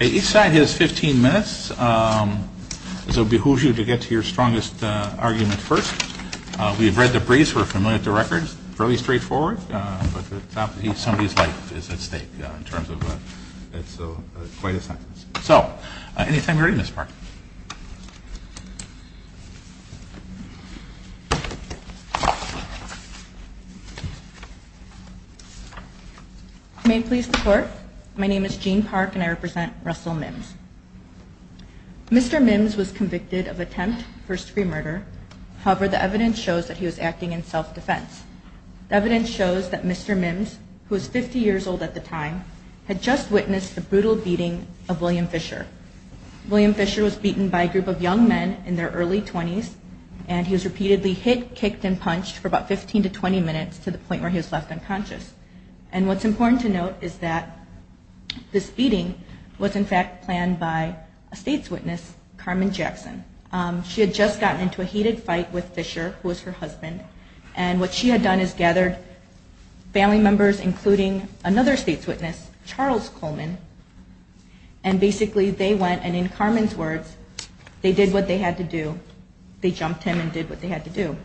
Each side has 15 minutes, so it behooves you to get to your strongest argument first. We've read the briefs, we're familiar with the records, fairly straightforward, but somebody's life is at stake in terms of, it's quite a sentence. So, anytime you're ready, Ms. Park. Ms. Park. May it please the court. My name is Jean Park and I represent Russell Mims. Mr. Mims was convicted of attempt first degree murder. However, the evidence shows that he was acting in self-defense. The evidence shows that Mr. Mims, who was 50 years old at the time, had just witnessed the brutal beating of William Fisher. William Fisher was beaten by a group of young men in their early 20s and he was repeatedly hit, kicked, and punched for about 15 to 20 minutes to the point where he was left unconscious. And what's important to note is that this beating was in fact planned by a state's witness, Carmen Jackson. She had just gotten into a heated fight with Fisher, who was her husband, and what she had done is gathered family members, including another state's witness, Charles Coleman, and basically they went and in Carmen's words, they did what they had to do. They jumped him and did what they had to do.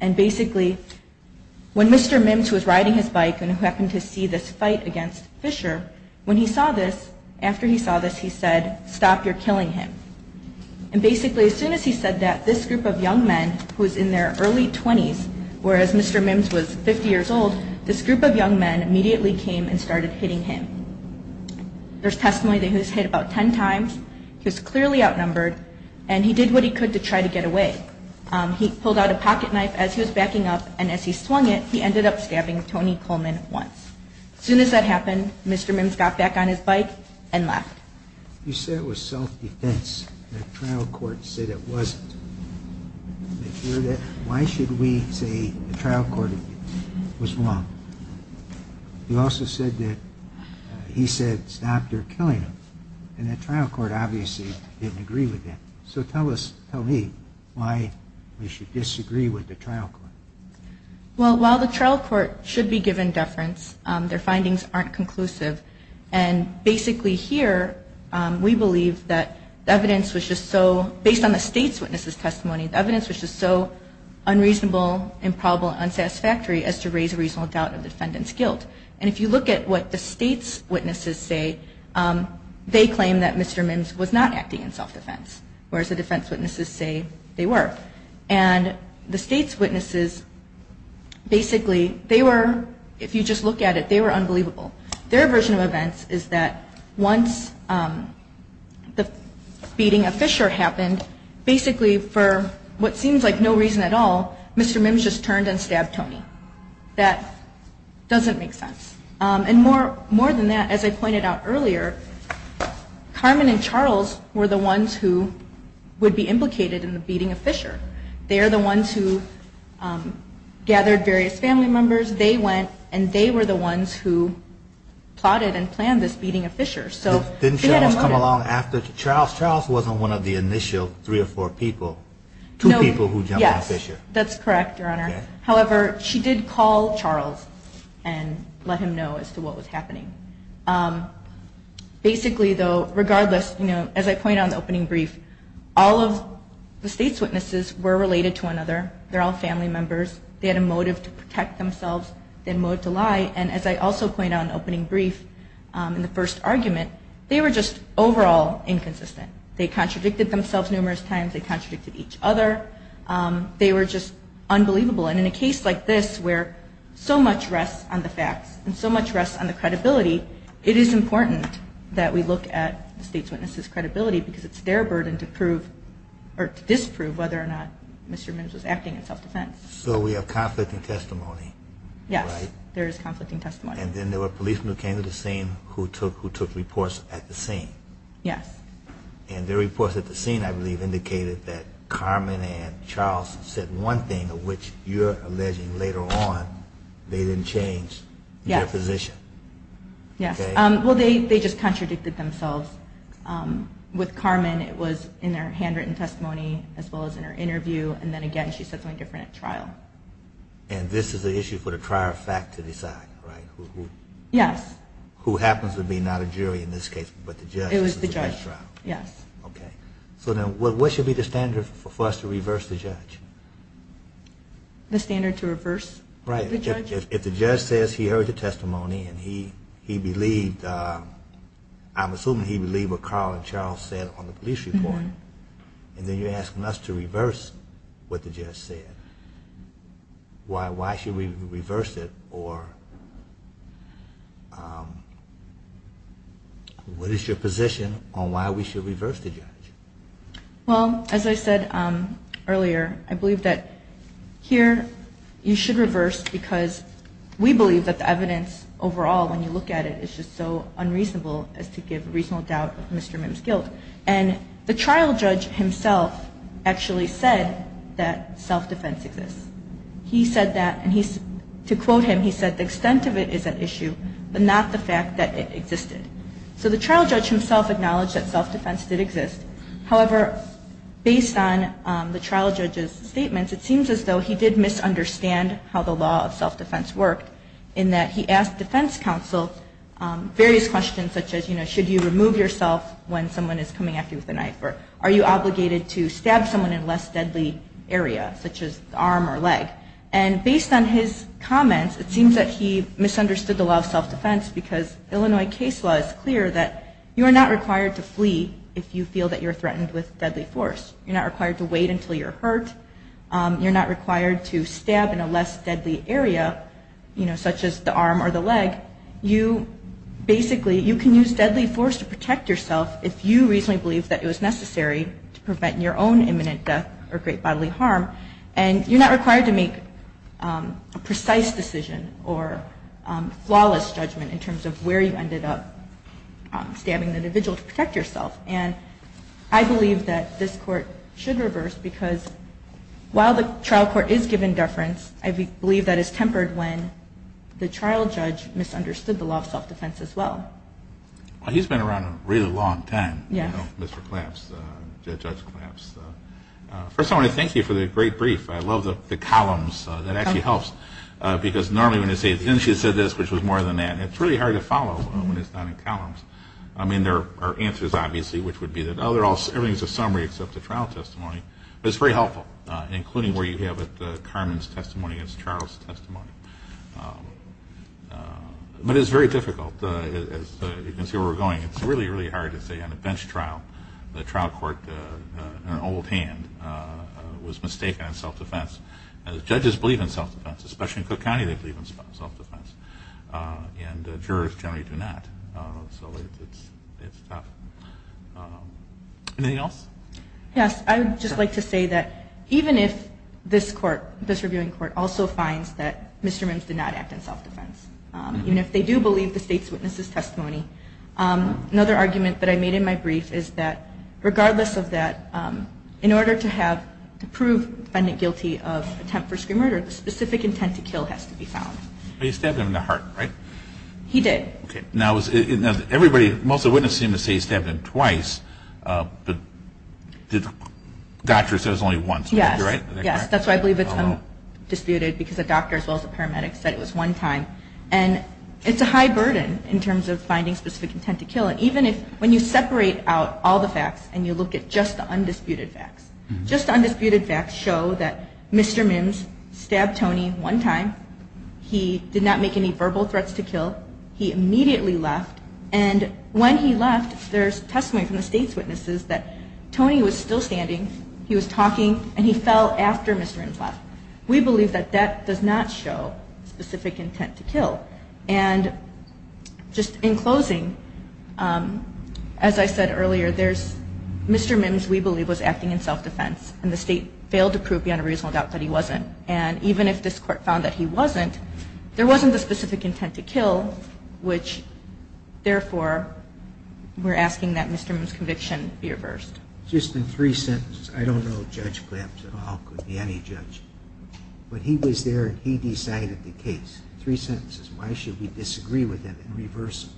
And basically, when Mr. Mims, who was riding his bike and who happened to see this fight against Fisher, when he saw this, after he saw this, he said, stop, you're killing him. And basically, as soon as he said that, this group of young men, who was in their early 20s, whereas Mr. Mims was 50 years old, this group of young men immediately came and started hitting him. There's testimony that he was hit about 10 times. He was clearly outnumbered and he did what he could to try to get away. He pulled out a pocket knife as he was backing up and as he swung it, he ended up stabbing Tony Coleman once. As soon as that happened, Mr. Mims got back on his bike and left. You said it was self-defense. The trial court said it wasn't. Why should we say the trial court was wrong? You also said that he said, stop, you're killing him. And the trial court obviously didn't agree with that. So tell me why we should disagree with the trial court. Well, while the trial court should be given deference, their findings aren't conclusive. And basically here, we believe that the evidence was just so, based on the state's witnesses testimony, the evidence was just so unreasonable, improbable, unsatisfactory as to raise a reasonable doubt of the defendant's guilt. And if you look at what the state's witnesses say, they claim that Mr. Mims was not acting in self-defense, whereas the defense witnesses say they were. And the state's witnesses, basically, they were, if you just look at it, they were unbelievable. Their version of events is that once the beating of Fisher happened, basically for what seems like no reason at all, Mr. Mims just turned and stabbed Tony. That doesn't make sense. And more than that, as I pointed out earlier, Carmen and Charles were the ones who would be implicated in the beating of Fisher. They are the ones who gathered various family members. They went and they were the ones who plotted and planned this beating of Fisher. Didn't Charles come along after Charles? Charles wasn't one of the initial three or four people, two people who jumped on Fisher. That's correct, Your Honor. However, she did call Charles and let him know as to what was happening. Basically, though, regardless, as I point out in the opening brief, all of the state's witnesses were related to one another. They're all family members. They had a motive to protect themselves. They had a motive to lie. And as I also point out in the opening brief, in the first argument, they were just overall inconsistent. They contradicted themselves numerous times. They contradicted each other. They were just unbelievable. And in a case like this where so much rests on the facts and so much rests on the credibility, it is important that we look at the state's witnesses' credibility because it's their burden to prove or to disprove whether or not Mr. Mims was acting in self-defense. So we have conflicting testimony, right? Yes, there is conflicting testimony. And then there were policemen who came to the scene who took reports at the scene. Yes. And their reports at the scene, I believe, indicated that Carmen and Charles said one thing of which you're alleging later on they didn't change their position. Yes. Okay. Well, they just contradicted themselves. With Carmen, it was in their handwritten testimony as well as in her interview. And then again, she said something different at trial. And this is an issue for the trier of fact to decide, right? Yes. Who happens to be not a jury in this case but the judge. The judge trial. Yes. Okay. So then what should be the standard for us to reverse the judge? The standard to reverse the judge? Right. If the judge says he heard the testimony and he believed, I'm assuming he believed what Carl and Charles said on the police report, and then you're asking us to reverse what the judge said. Why should we reverse it? Or what is your position on why we should reverse the judge? Well, as I said earlier, I believe that here you should reverse because we believe that the evidence overall when you look at it is just so unreasonable as to give reasonable doubt of Mr. Mims' guilt. And the trial judge himself actually said that self-defense exists. He said that, and to quote him, he said the extent of it is an issue but not the fact that it existed. So the trial judge himself acknowledged that self-defense did exist. However, based on the trial judge's statements, it seems as though he did misunderstand how the law of self-defense worked in that he asked defense counsel various questions such as, you know, are you obligated to stab someone in a less deadly area such as the arm or leg? And based on his comments, it seems that he misunderstood the law of self-defense because Illinois case law is clear that you are not required to flee if you feel that you're threatened with deadly force. You're not required to wait until you're hurt. You're not required to stab in a less deadly area, you know, such as the arm or the leg. But you basically, you can use deadly force to protect yourself if you reasonably believe that it was necessary to prevent your own imminent death or great bodily harm. And you're not required to make a precise decision or flawless judgment in terms of where you ended up stabbing the individual to protect yourself. And I believe that this court should reverse because while the trial court is given deference, I believe that is tempered when the trial judge misunderstood the law of self-defense as well. Well, he's been around a really long time, you know, Mr. Claps, Judge Claps. First, I want to thank you for the great brief. I love the columns. That actually helps because normally when they say, didn't she say this, which was more than that, it's really hard to follow when it's not in columns. I mean, there are answers, obviously, which would be that everything is a summary except the trial testimony. But it's very helpful, including where you have it, Carmen's testimony against Charles' testimony. But it's very difficult. You can see where we're going. It's really, really hard to say on a bench trial the trial court in an old hand was mistaken in self-defense. Judges believe in self-defense, especially in Cook County, they believe in self-defense. And jurors generally do not. So it's tough. Anything else? Yes. I would just like to say that even if this court, this reviewing court, also finds that Mr. Mims did not act in self-defense, even if they do believe the state's witness's testimony, another argument that I made in my brief is that regardless of that, in order to prove the defendant guilty of attempt for screen murder, the specific intent to kill has to be found. But he stabbed him in the heart, right? He did. Okay. Now, everybody, most of the witnesses seem to say he stabbed him twice, but the doctor said it was only once. Yes. Is that correct? Yes. That's why I believe it's undisputed because the doctor, as well as the paramedics, said it was one time. And it's a high burden in terms of finding specific intent to kill. And even if, when you separate out all the facts and you look at just the undisputed facts, just the undisputed facts show that Mr. Mims stabbed Tony one time. He did not make any verbal threats to kill. He immediately left. And when he left, there's testimony from the state's witnesses that Tony was still standing. He was talking, and he fell after Mr. Mims left. And just in closing, as I said earlier, there's Mr. Mims, we believe, was acting in self-defense. And the state failed to prove beyond a reasonable doubt that he wasn't. And even if this court found that he wasn't, there wasn't the specific intent to kill, which, therefore, we're asking that Mr. Mims' conviction be reversed. Just in three sentences. I don't know if Judge Glantz at all could be any judge. But he was there, and he decided the case. Three sentences. Why should we disagree with him and reverse him?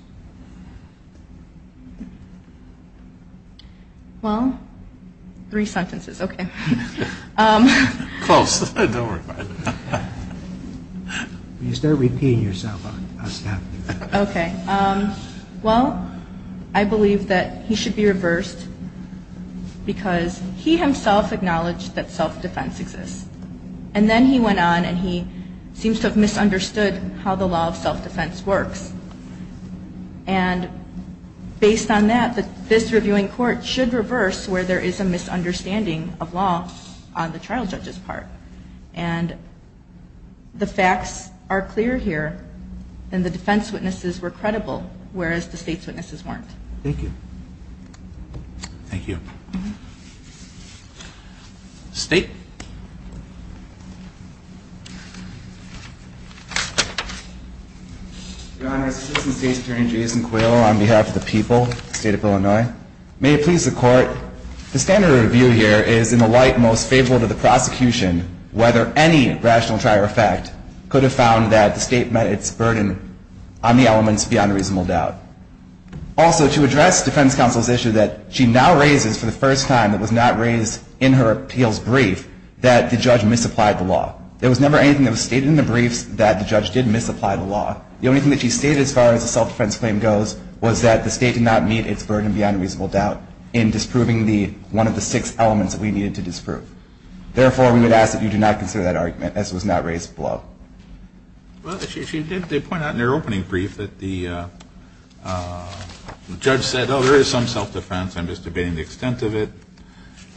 Well, three sentences. Okay. Close. Don't worry about it. When you start repeating yourself, I'll stop. Okay. Well, I believe that he should be reversed because he himself acknowledged that self-defense exists. And then he went on, and he seems to have misunderstood how the law of self-defense works. And based on that, this reviewing court should reverse where there is a misunderstanding of law on the trial judge's part. And the facts are clear here, and the defense witnesses were credible, whereas the state's witnesses weren't. Thank you. Thank you. State. Your Honor, Assistant State's Attorney Jason Quayle on behalf of the people of the state of Illinois. May it please the Court, the standard review here is in the light most favorable to the prosecution whether any rational trial effect could have found that the state met its burden on the elements beyond reasonable doubt. Also, to address defense counsel's issue that she now raises for the first time that was not raised in her appeals brief that the judge misapplied the law. There was never anything that was stated in the briefs that the judge did misapply the law. The only thing that she stated as far as the self-defense claim goes was that the state did not meet its burden beyond reasonable doubt in disproving one of the six elements that we needed to disprove. Therefore, we would ask that you do not consider that argument as it was not raised below. Well, she did point out in her opening brief that the judge said, oh, there is some self-defense. I'm just debating the extent of it.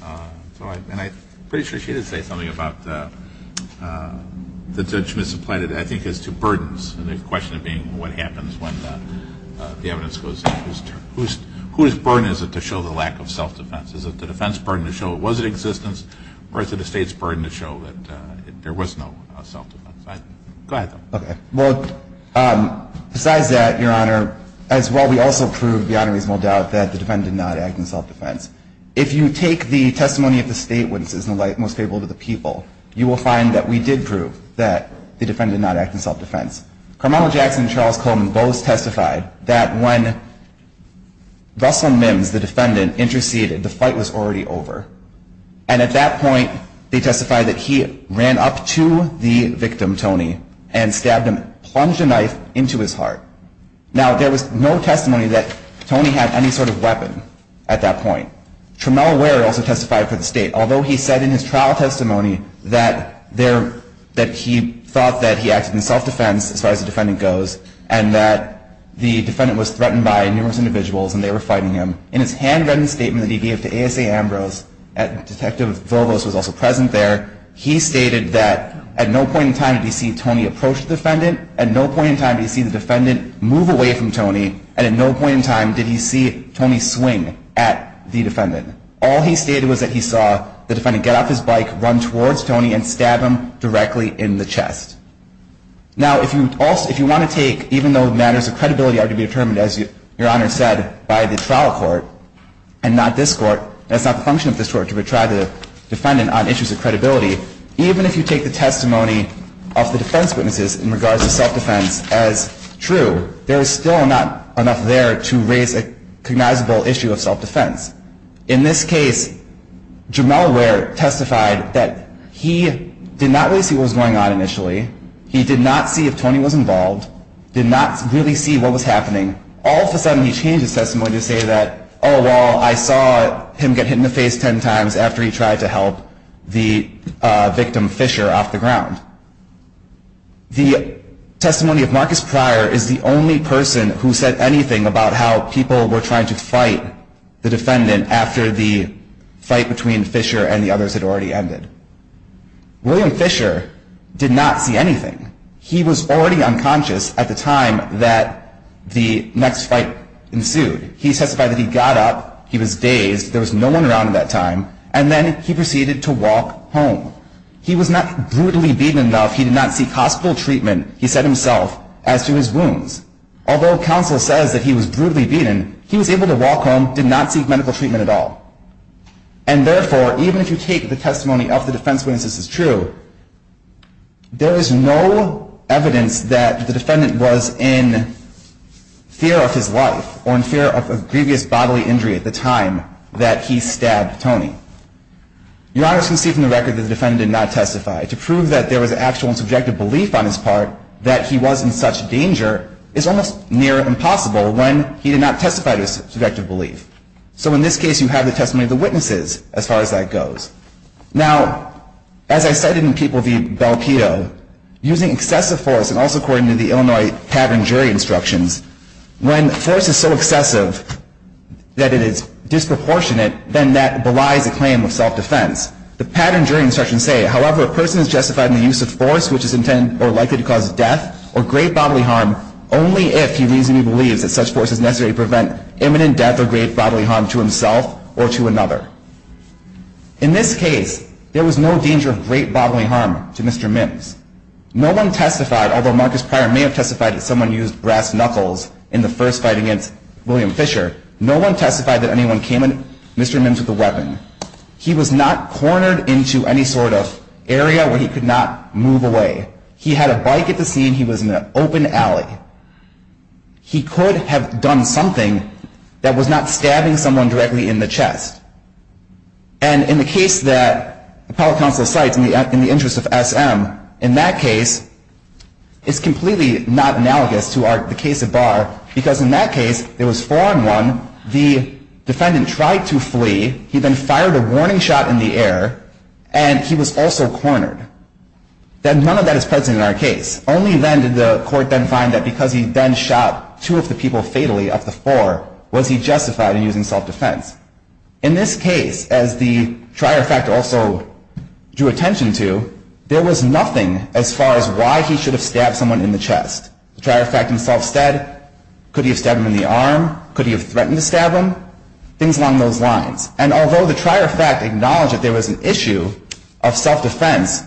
And I'm pretty sure she did say something about the judge misapplied it, I think, as to burdens, and the question being what happens when the evidence goes in whose turn. Whose burden is it to show the lack of self-defense? Or is it the state's burden to show that there was no self-defense? Go ahead, though. Okay. Well, besides that, Your Honor, as well, we also proved beyond reasonable doubt that the defendant did not act in self-defense. If you take the testimony of the state witnesses in the light most favorable to the people, you will find that we did prove that the defendant did not act in self-defense. Carmelo Jackson and Charles Coleman both testified that when Russell Mims, the defendant, interceded, the fight was already over. And at that point, they testified that he ran up to the victim, Tony, and stabbed him, plunged a knife into his heart. Now, there was no testimony that Tony had any sort of weapon at that point. Tramiel Ware also testified for the state. Although he said in his trial testimony that he thought that he acted in self-defense, as far as the defendant goes, and that the defendant was threatened by numerous individuals and they were fighting him, in his handwritten statement that he gave to ASA Ambrose, Detective Volos was also present there, he stated that at no point in time did he see Tony approach the defendant, at no point in time did he see the defendant move away from Tony, and at no point in time did he see Tony swing at the defendant. All he stated was that he saw the defendant get off his bike, run towards Tony, and stab him directly in the chest. Now, if you want to take, even though matters of credibility are to be determined, as Your Honor said, by the trial court and not this court, and it's not the function of this court to try the defendant on issues of credibility, even if you take the testimony of the defense witnesses in regards to self-defense as true, there is still not enough there to raise a cognizable issue of self-defense. In this case, Tramiel Ware testified that he did not really see what was going on initially, he did not see if Tony was involved, did not really see what was happening. All of a sudden, he changed his testimony to say that, oh, well, I saw him get hit in the face ten times after he tried to help the victim, Fisher, off the ground. The testimony of Marcus Pryor is the only person who said anything about how people were trying to fight the defendant after the fight between Fisher and the others had already ended. William Fisher did not see anything. He was already unconscious at the time that the next fight ensued. He testified that he got up, he was dazed, there was no one around at that time, and then he proceeded to walk home. He was not brutally beaten enough, he did not seek hospital treatment, he said himself, as to his wounds. Although counsel says that he was brutally beaten, he was able to walk home, did not seek medical treatment at all. And therefore, even if you take the testimony of the defense witness as true, there is no evidence that the defendant was in fear of his life or in fear of a grievous bodily injury at the time that he stabbed Tony. Your Honor, as you can see from the record, the defendant did not testify. To prove that there was actual and subjective belief on his part that he was in such danger is almost near impossible when he did not testify to his subjective belief. So in this case, you have the testimony of the witnesses as far as that goes. Now, as I cited in People v. Belkedo, using excessive force, and also according to the Illinois pattern jury instructions, when force is so excessive that it is disproportionate, then that belies a claim of self-defense. The pattern jury instructions say, however, a person is justified in the use of force which is intended or likely to cause death or great bodily harm only if he reasonably believes that such force is necessary to prevent imminent death or great bodily harm to himself or to another. In this case, there was no danger of great bodily harm to Mr. Mims. No one testified, although Marcus Pryor may have testified that someone used brass knuckles in the first fight against William Fisher, no one testified that anyone came at Mr. Mims with a weapon. He was not cornered into any sort of area where he could not move away. He had a bike at the scene. He was in an open alley. He could have done something that was not stabbing someone directly in the chest. And in the case that the appellate counsel cites in the interest of SM, in that case, it's completely not analogous to the case of Barr, because in that case, there was four-on-one, the defendant tried to flee, he then fired a warning shot in the air, and he was also cornered. None of that is present in our case. Only then did the court then find that because he then shot two of the people fatally of the four, was he justified in using self-defense. In this case, as the trier fact also drew attention to, there was nothing as far as why he should have stabbed someone in the chest. The trier fact himself said, could he have stabbed him in the arm? Could he have threatened to stab him? Things along those lines. And although the trier fact acknowledged that there was an issue of self-defense,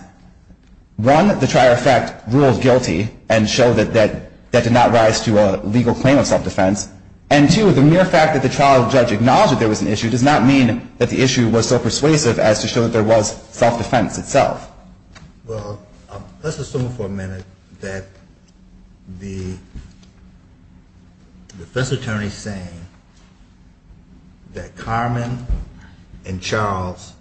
one, the trier fact ruled guilty and showed that that did not rise to a legal claim of self-defense, and two, the mere fact that the trial judge acknowledged that there was an issue does not mean that the issue was so persuasive as to show that there was self-defense itself. Well, let's assume for a minute that the defense attorney is saying that Carmen and Charles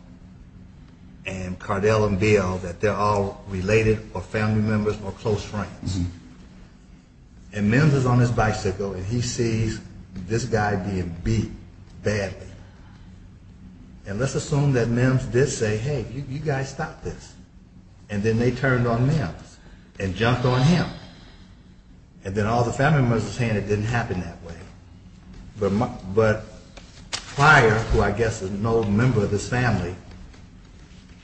and Cardell and Bill, that they're all related or family members or close friends. And Mims is on his bicycle, and he sees this guy being beat badly. And let's assume that Mims did say, hey, you guys stop this. And then they turned on Mims and jumped on him. And then all the family members are saying it didn't happen that way. But the trier, who I guess is an old member of this family,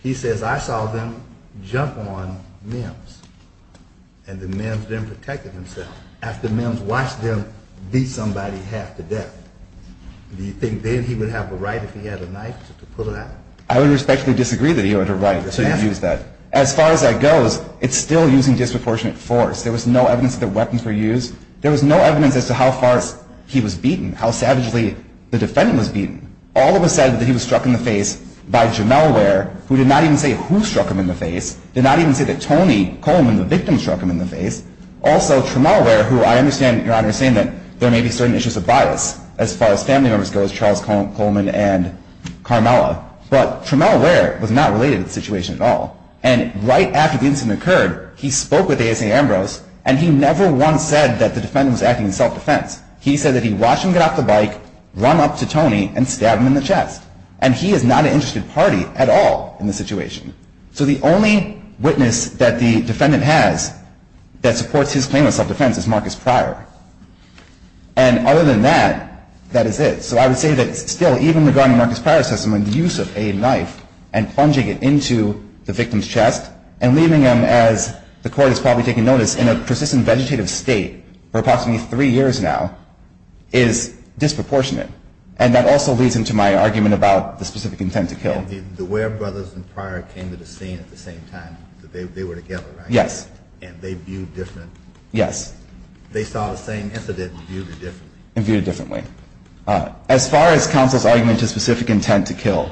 he says, I saw them jump on Mims. And then Mims then protected himself after Mims watched them beat somebody half to death. Do you think then he would have a right if he had a knife to pull that? I would respectfully disagree that he would have a right to use that. As far as that goes, it's still using disproportionate force. There was no evidence that weapons were used. There was no evidence as to how far he was beaten, how savagely the defendant was beaten. All of it said that he was struck in the face by Jamel Ware, who did not even say who struck him in the face, did not even say that Tony Coleman, the victim, struck him in the face. Also, Jamel Ware, who I understand, Your Honor, is saying that there may be certain issues of bias as far as family members go, as Charles Coleman and Carmela. But Jamel Ware was not related to the situation at all. And right after the incident occurred, he spoke with ASA Ambrose, and he never once said that the defendant was acting in self-defense. He said that he watched him get off the bike, run up to Tony, and stabbed him in the chest. And he is not an interested party at all in the situation. So the only witness that the defendant has that supports his claim of self-defense is Marcus Pryor. And other than that, that is it. So I would say that still, even regarding Marcus Pryor's testimony, the use of a knife and plunging it into the victim's chest and leaving him, as the Court has probably taken notice, in a persistent vegetative state for approximately three years now is disproportionate. And that also leads into my argument about the specific intent to kill. The Ware brothers and Pryor came to the scene at the same time. They were together, right? Yes. And they viewed different. Yes. They saw the same incident and viewed it differently. And viewed it differently. As far as counsel's argument to specific intent to kill,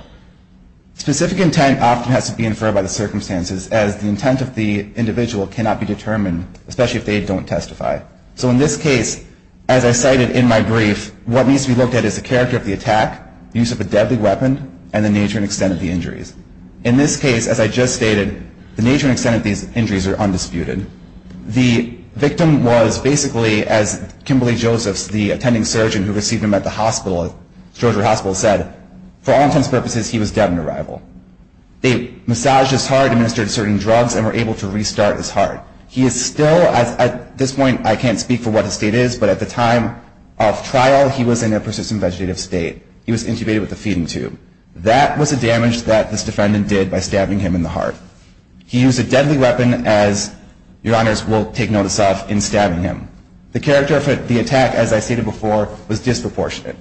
specific intent often has to be inferred by the circumstances, as the intent of the individual cannot be determined, especially if they don't testify. So in this case, as I cited in my brief, what needs to be looked at is the character of the attack, the use of a deadly weapon, and the nature and extent of the injuries. In this case, as I just stated, the nature and extent of these injuries are undisputed. The victim was basically, as Kimberly Josephs, the attending surgeon who received him at the hospital, at Georgia Hospital, said, for all intents and purposes, he was dead on arrival. They massaged his heart, administered certain drugs, and were able to restart his heart. He is still, at this point I can't speak for what his state is, but at the time of trial he was in a persistent vegetative state. He was intubated with a feeding tube. That was the damage that this defendant did by stabbing him in the heart. He used a deadly weapon, as your honors will take notice of, in stabbing him. The character of the attack, as I stated before, was disproportionate.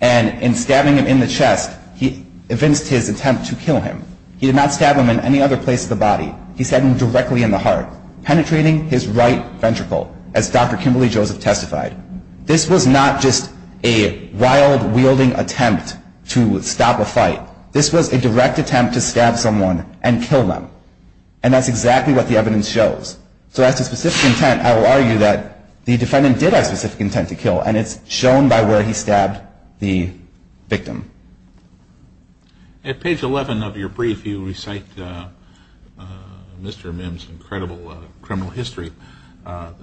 And in stabbing him in the chest, he evinced his attempt to kill him. He did not stab him in any other place of the body. He stabbed him directly in the heart, penetrating his right ventricle, as Dr. Kimberly Joseph testified. This was not just a wild, wielding attempt to stop a fight. This was a direct attempt to stab someone and kill them. And that's exactly what the evidence shows. So as to specific intent, I will argue that the defendant did have specific intent to kill, and it's shown by where he stabbed the victim. At page 11 of your brief, you recite Mr. Mim's incredible criminal history of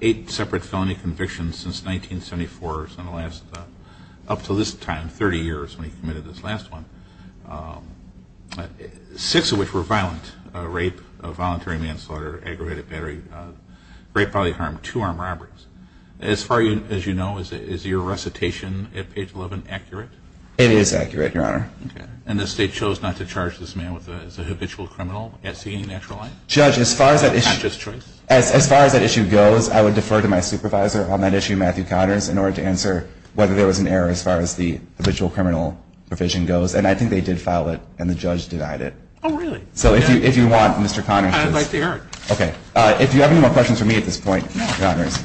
eight separate felony convictions since 1974. So in the last, up to this time, 30 years, when he committed this last one, six of which were violent, rape, voluntary manslaughter, aggravated battery, rape, bodily harm, two armed robberies. As far as you know, is your recitation at page 11 accurate? It is accurate, your honor. Okay. And the state chose not to charge this man as a habitual criminal at seeing natural light? Judge, as far as that issue goes, I would defer to my supervisor on that issue, Matthew Connors, in order to answer whether there was an error as far as the habitual criminal provision goes. And I think they did file it, and the judge denied it. Oh, really? So if you want, Mr. Connors. I'd like to hear it. Okay. If you have any more questions for me at this point, Connors,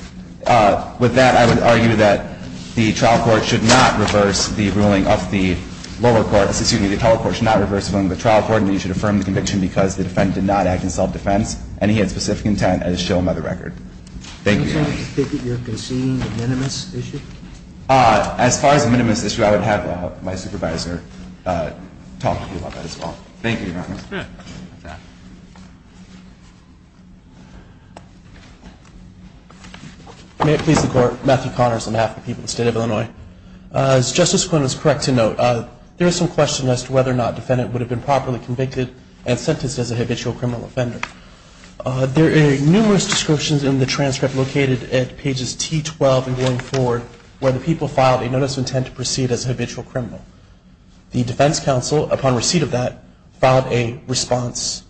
with that, I would argue that the trial court should not reverse the ruling of the lower court. Excuse me. The total court should not reverse the ruling of the trial court, because the defendant did not act in self-defense, and he had specific intent, as shown by the record. Thank you, your honor. Do you think that you're conceding a minimus issue? As far as a minimus issue, I would have my supervisor talk to you about that as well. Thank you, your honor. Okay. May it please the Court, Matthew Connors, on behalf of the people of the State of Illinois. As Justice Quinn was correct to note, there is some question as to whether or not the defendant would have been properly convicted and sentenced as a habitual criminal offender. There are numerous descriptions in the transcript located at pages T12 and going forward, where the people filed a notice of intent to proceed as a habitual criminal. The defense counsel, upon receipt of that, filed a response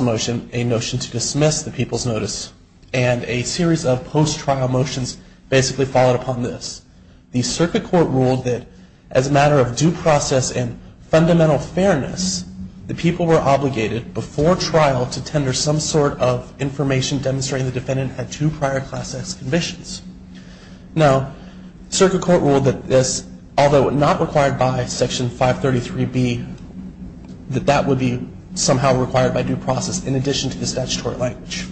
motion, a notion to dismiss the people's notice, and a series of post-trial motions basically followed upon this. The circuit court ruled that, as a matter of due process and fundamental fairness, the people were obligated, before trial, to tender some sort of information demonstrating the defendant had two prior Class X convictions. Now, circuit court ruled that this, although not required by Section 533B, that that would be somehow required by due process in addition to the statutory language.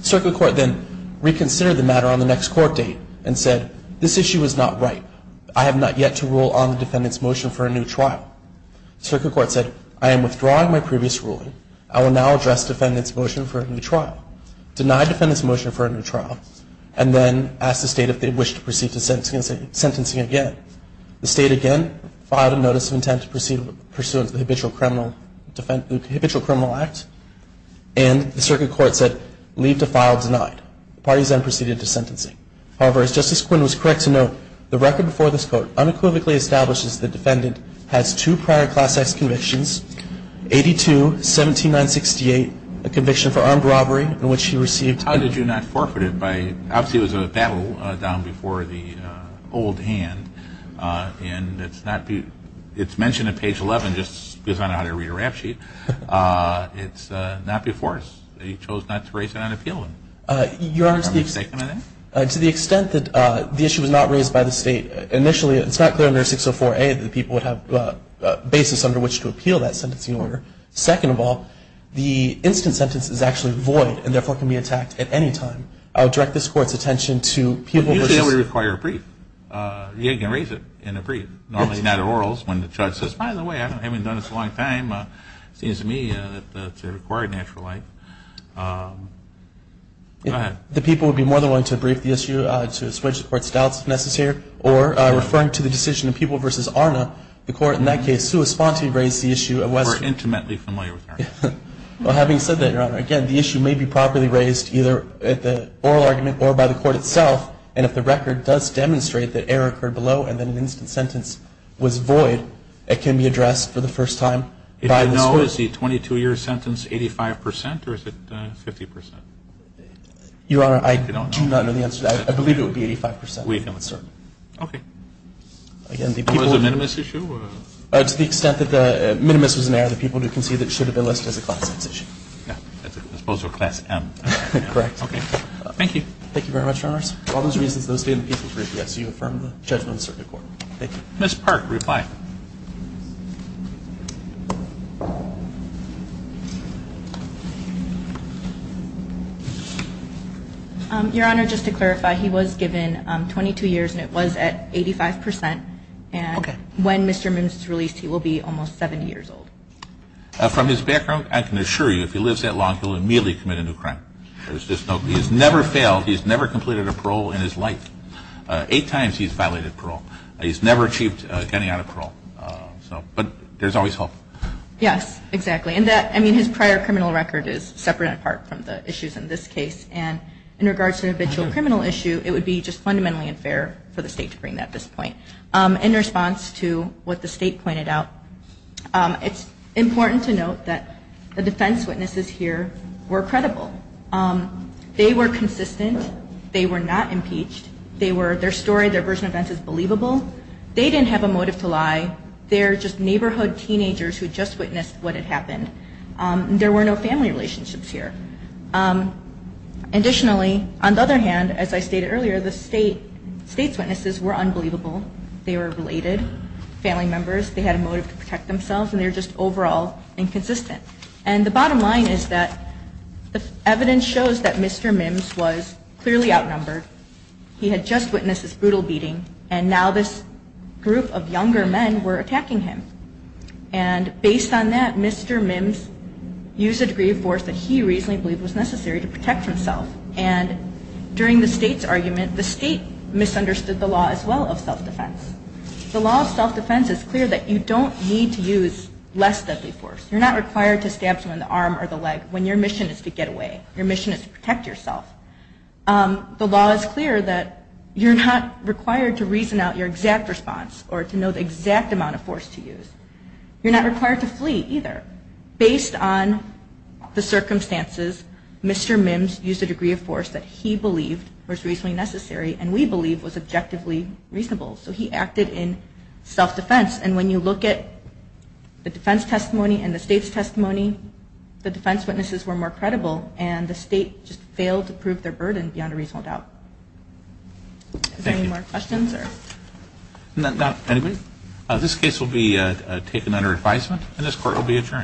Circuit court then reconsidered the matter on the next court date and said, this issue is not right. I have not yet to rule on the defendant's motion for a new trial. Circuit court said, I am withdrawing my previous ruling. I will now address defendant's motion for a new trial. Deny defendant's motion for a new trial, and then ask the State if they wish to proceed to sentencing again. The State again filed a notice of intent to proceed pursuant to the habitual criminal act, and the circuit court said, leave to file denied. The parties then proceeded to sentencing. However, as Justice Quinn was correct to note, the record before this court unequivocally establishes the defendant has two prior Class X convictions, 82-17968, a conviction for armed robbery in which he received. How did you not forfeit it by, obviously it was a battle down before the old hand, and it's not, it's mentioned at page 11, just because I don't know how to read a rap sheet. It's not before he chose not to raise it on appeal. Your Honor, to the extent that the issue was not raised by the State initially, it's not clear under 604A that people would have a basis under which to appeal that sentencing order. Second of all, the instant sentence is actually void, and therefore can be attacked at any time. I would direct this Court's attention to people. Usually it would require a brief. You can raise it in a brief. Normally not at orals when the judge says, by the way, I haven't done this in a long time. It seems to me that it's a required natural right. Go ahead. The people would be more than willing to brief the issue, to switch the Court's doubts if necessary, or referring to the decision of People v. Arna, the Court in that case, to respond to raise the issue of whether. We're intimately familiar with Arna. Well, having said that, Your Honor, again, the issue may be properly raised either at the oral argument or by the Court itself, and if the record does demonstrate that error occurred below and that an instant sentence was void, it can be addressed for the first time by this Court. If you know, is the 22-year sentence 85 percent, or is it 50 percent? Your Honor, I do not know the answer to that. I believe it would be 85 percent. We know it's certain. Okay. Again, the people. Was it a minimus issue? To the extent that the minimus was an error, the people do concede that it should have been listed as a Class X issue. Yeah, as opposed to a Class M. Correct. Okay. Thank you. Thank you very much, Your Honors. For all those reasons, those stand the case in the Supreme Court. Yes, you affirm the judgment of the Supreme Court. Thank you. Ms. Park, reply. Your Honor, just to clarify, he was given 22 years, and it was at 85 percent. Okay. And when Mr. Mims is released, he will be almost 70 years old. From his background, I can assure you if he lives that long, he will immediately commit a new crime. He's never failed. He's never completed a parole in his life. Eight times he's violated parole. He's never achieved getting out of parole. But there's always hope. Yes, exactly. And his prior criminal record is separate and apart from the issues in this case. And in regards to an habitual criminal issue, it would be just fundamentally unfair for the State to bring that to this point. In response to what the State pointed out, it's important to note that the defense witnesses here were credible. They were consistent. They were not impeached. Their story, their version of events is believable. They didn't have a motive to lie. They're just neighborhood teenagers who just witnessed what had happened. There were no family relationships here. Additionally, on the other hand, as I stated earlier, the State's witnesses were unbelievable. They were related family members. They had a motive to protect themselves, and they were just overall inconsistent. And the bottom line is that the evidence shows that Mr. Mims was clearly outnumbered. He had just witnessed this brutal beating, and now this group of younger men were attacking him. And based on that, Mr. Mims used a degree of force that he reasonably believed was necessary to protect himself. And during the State's argument, the State misunderstood the law as well of self-defense. The law of self-defense is clear that you don't need to use less deadly force. You're not required to stab someone in the arm or the leg when your mission is to get away. Your mission is to protect yourself. The law is clear that you're not required to reason out your exact response or to know the exact amount of force to use. You're not required to flee either. Based on the circumstances, Mr. Mims used a degree of force that he believed was reasonably necessary and we believe was objectively reasonable, so he acted in self-defense. And when you look at the defense testimony and the State's testimony, the defense witnesses were more credible, and the State just failed to prove their burden beyond a reasonable doubt. Thank you. Are there any more questions? Not at this point. This case will be taken under advisement, and this Court will be adjourned.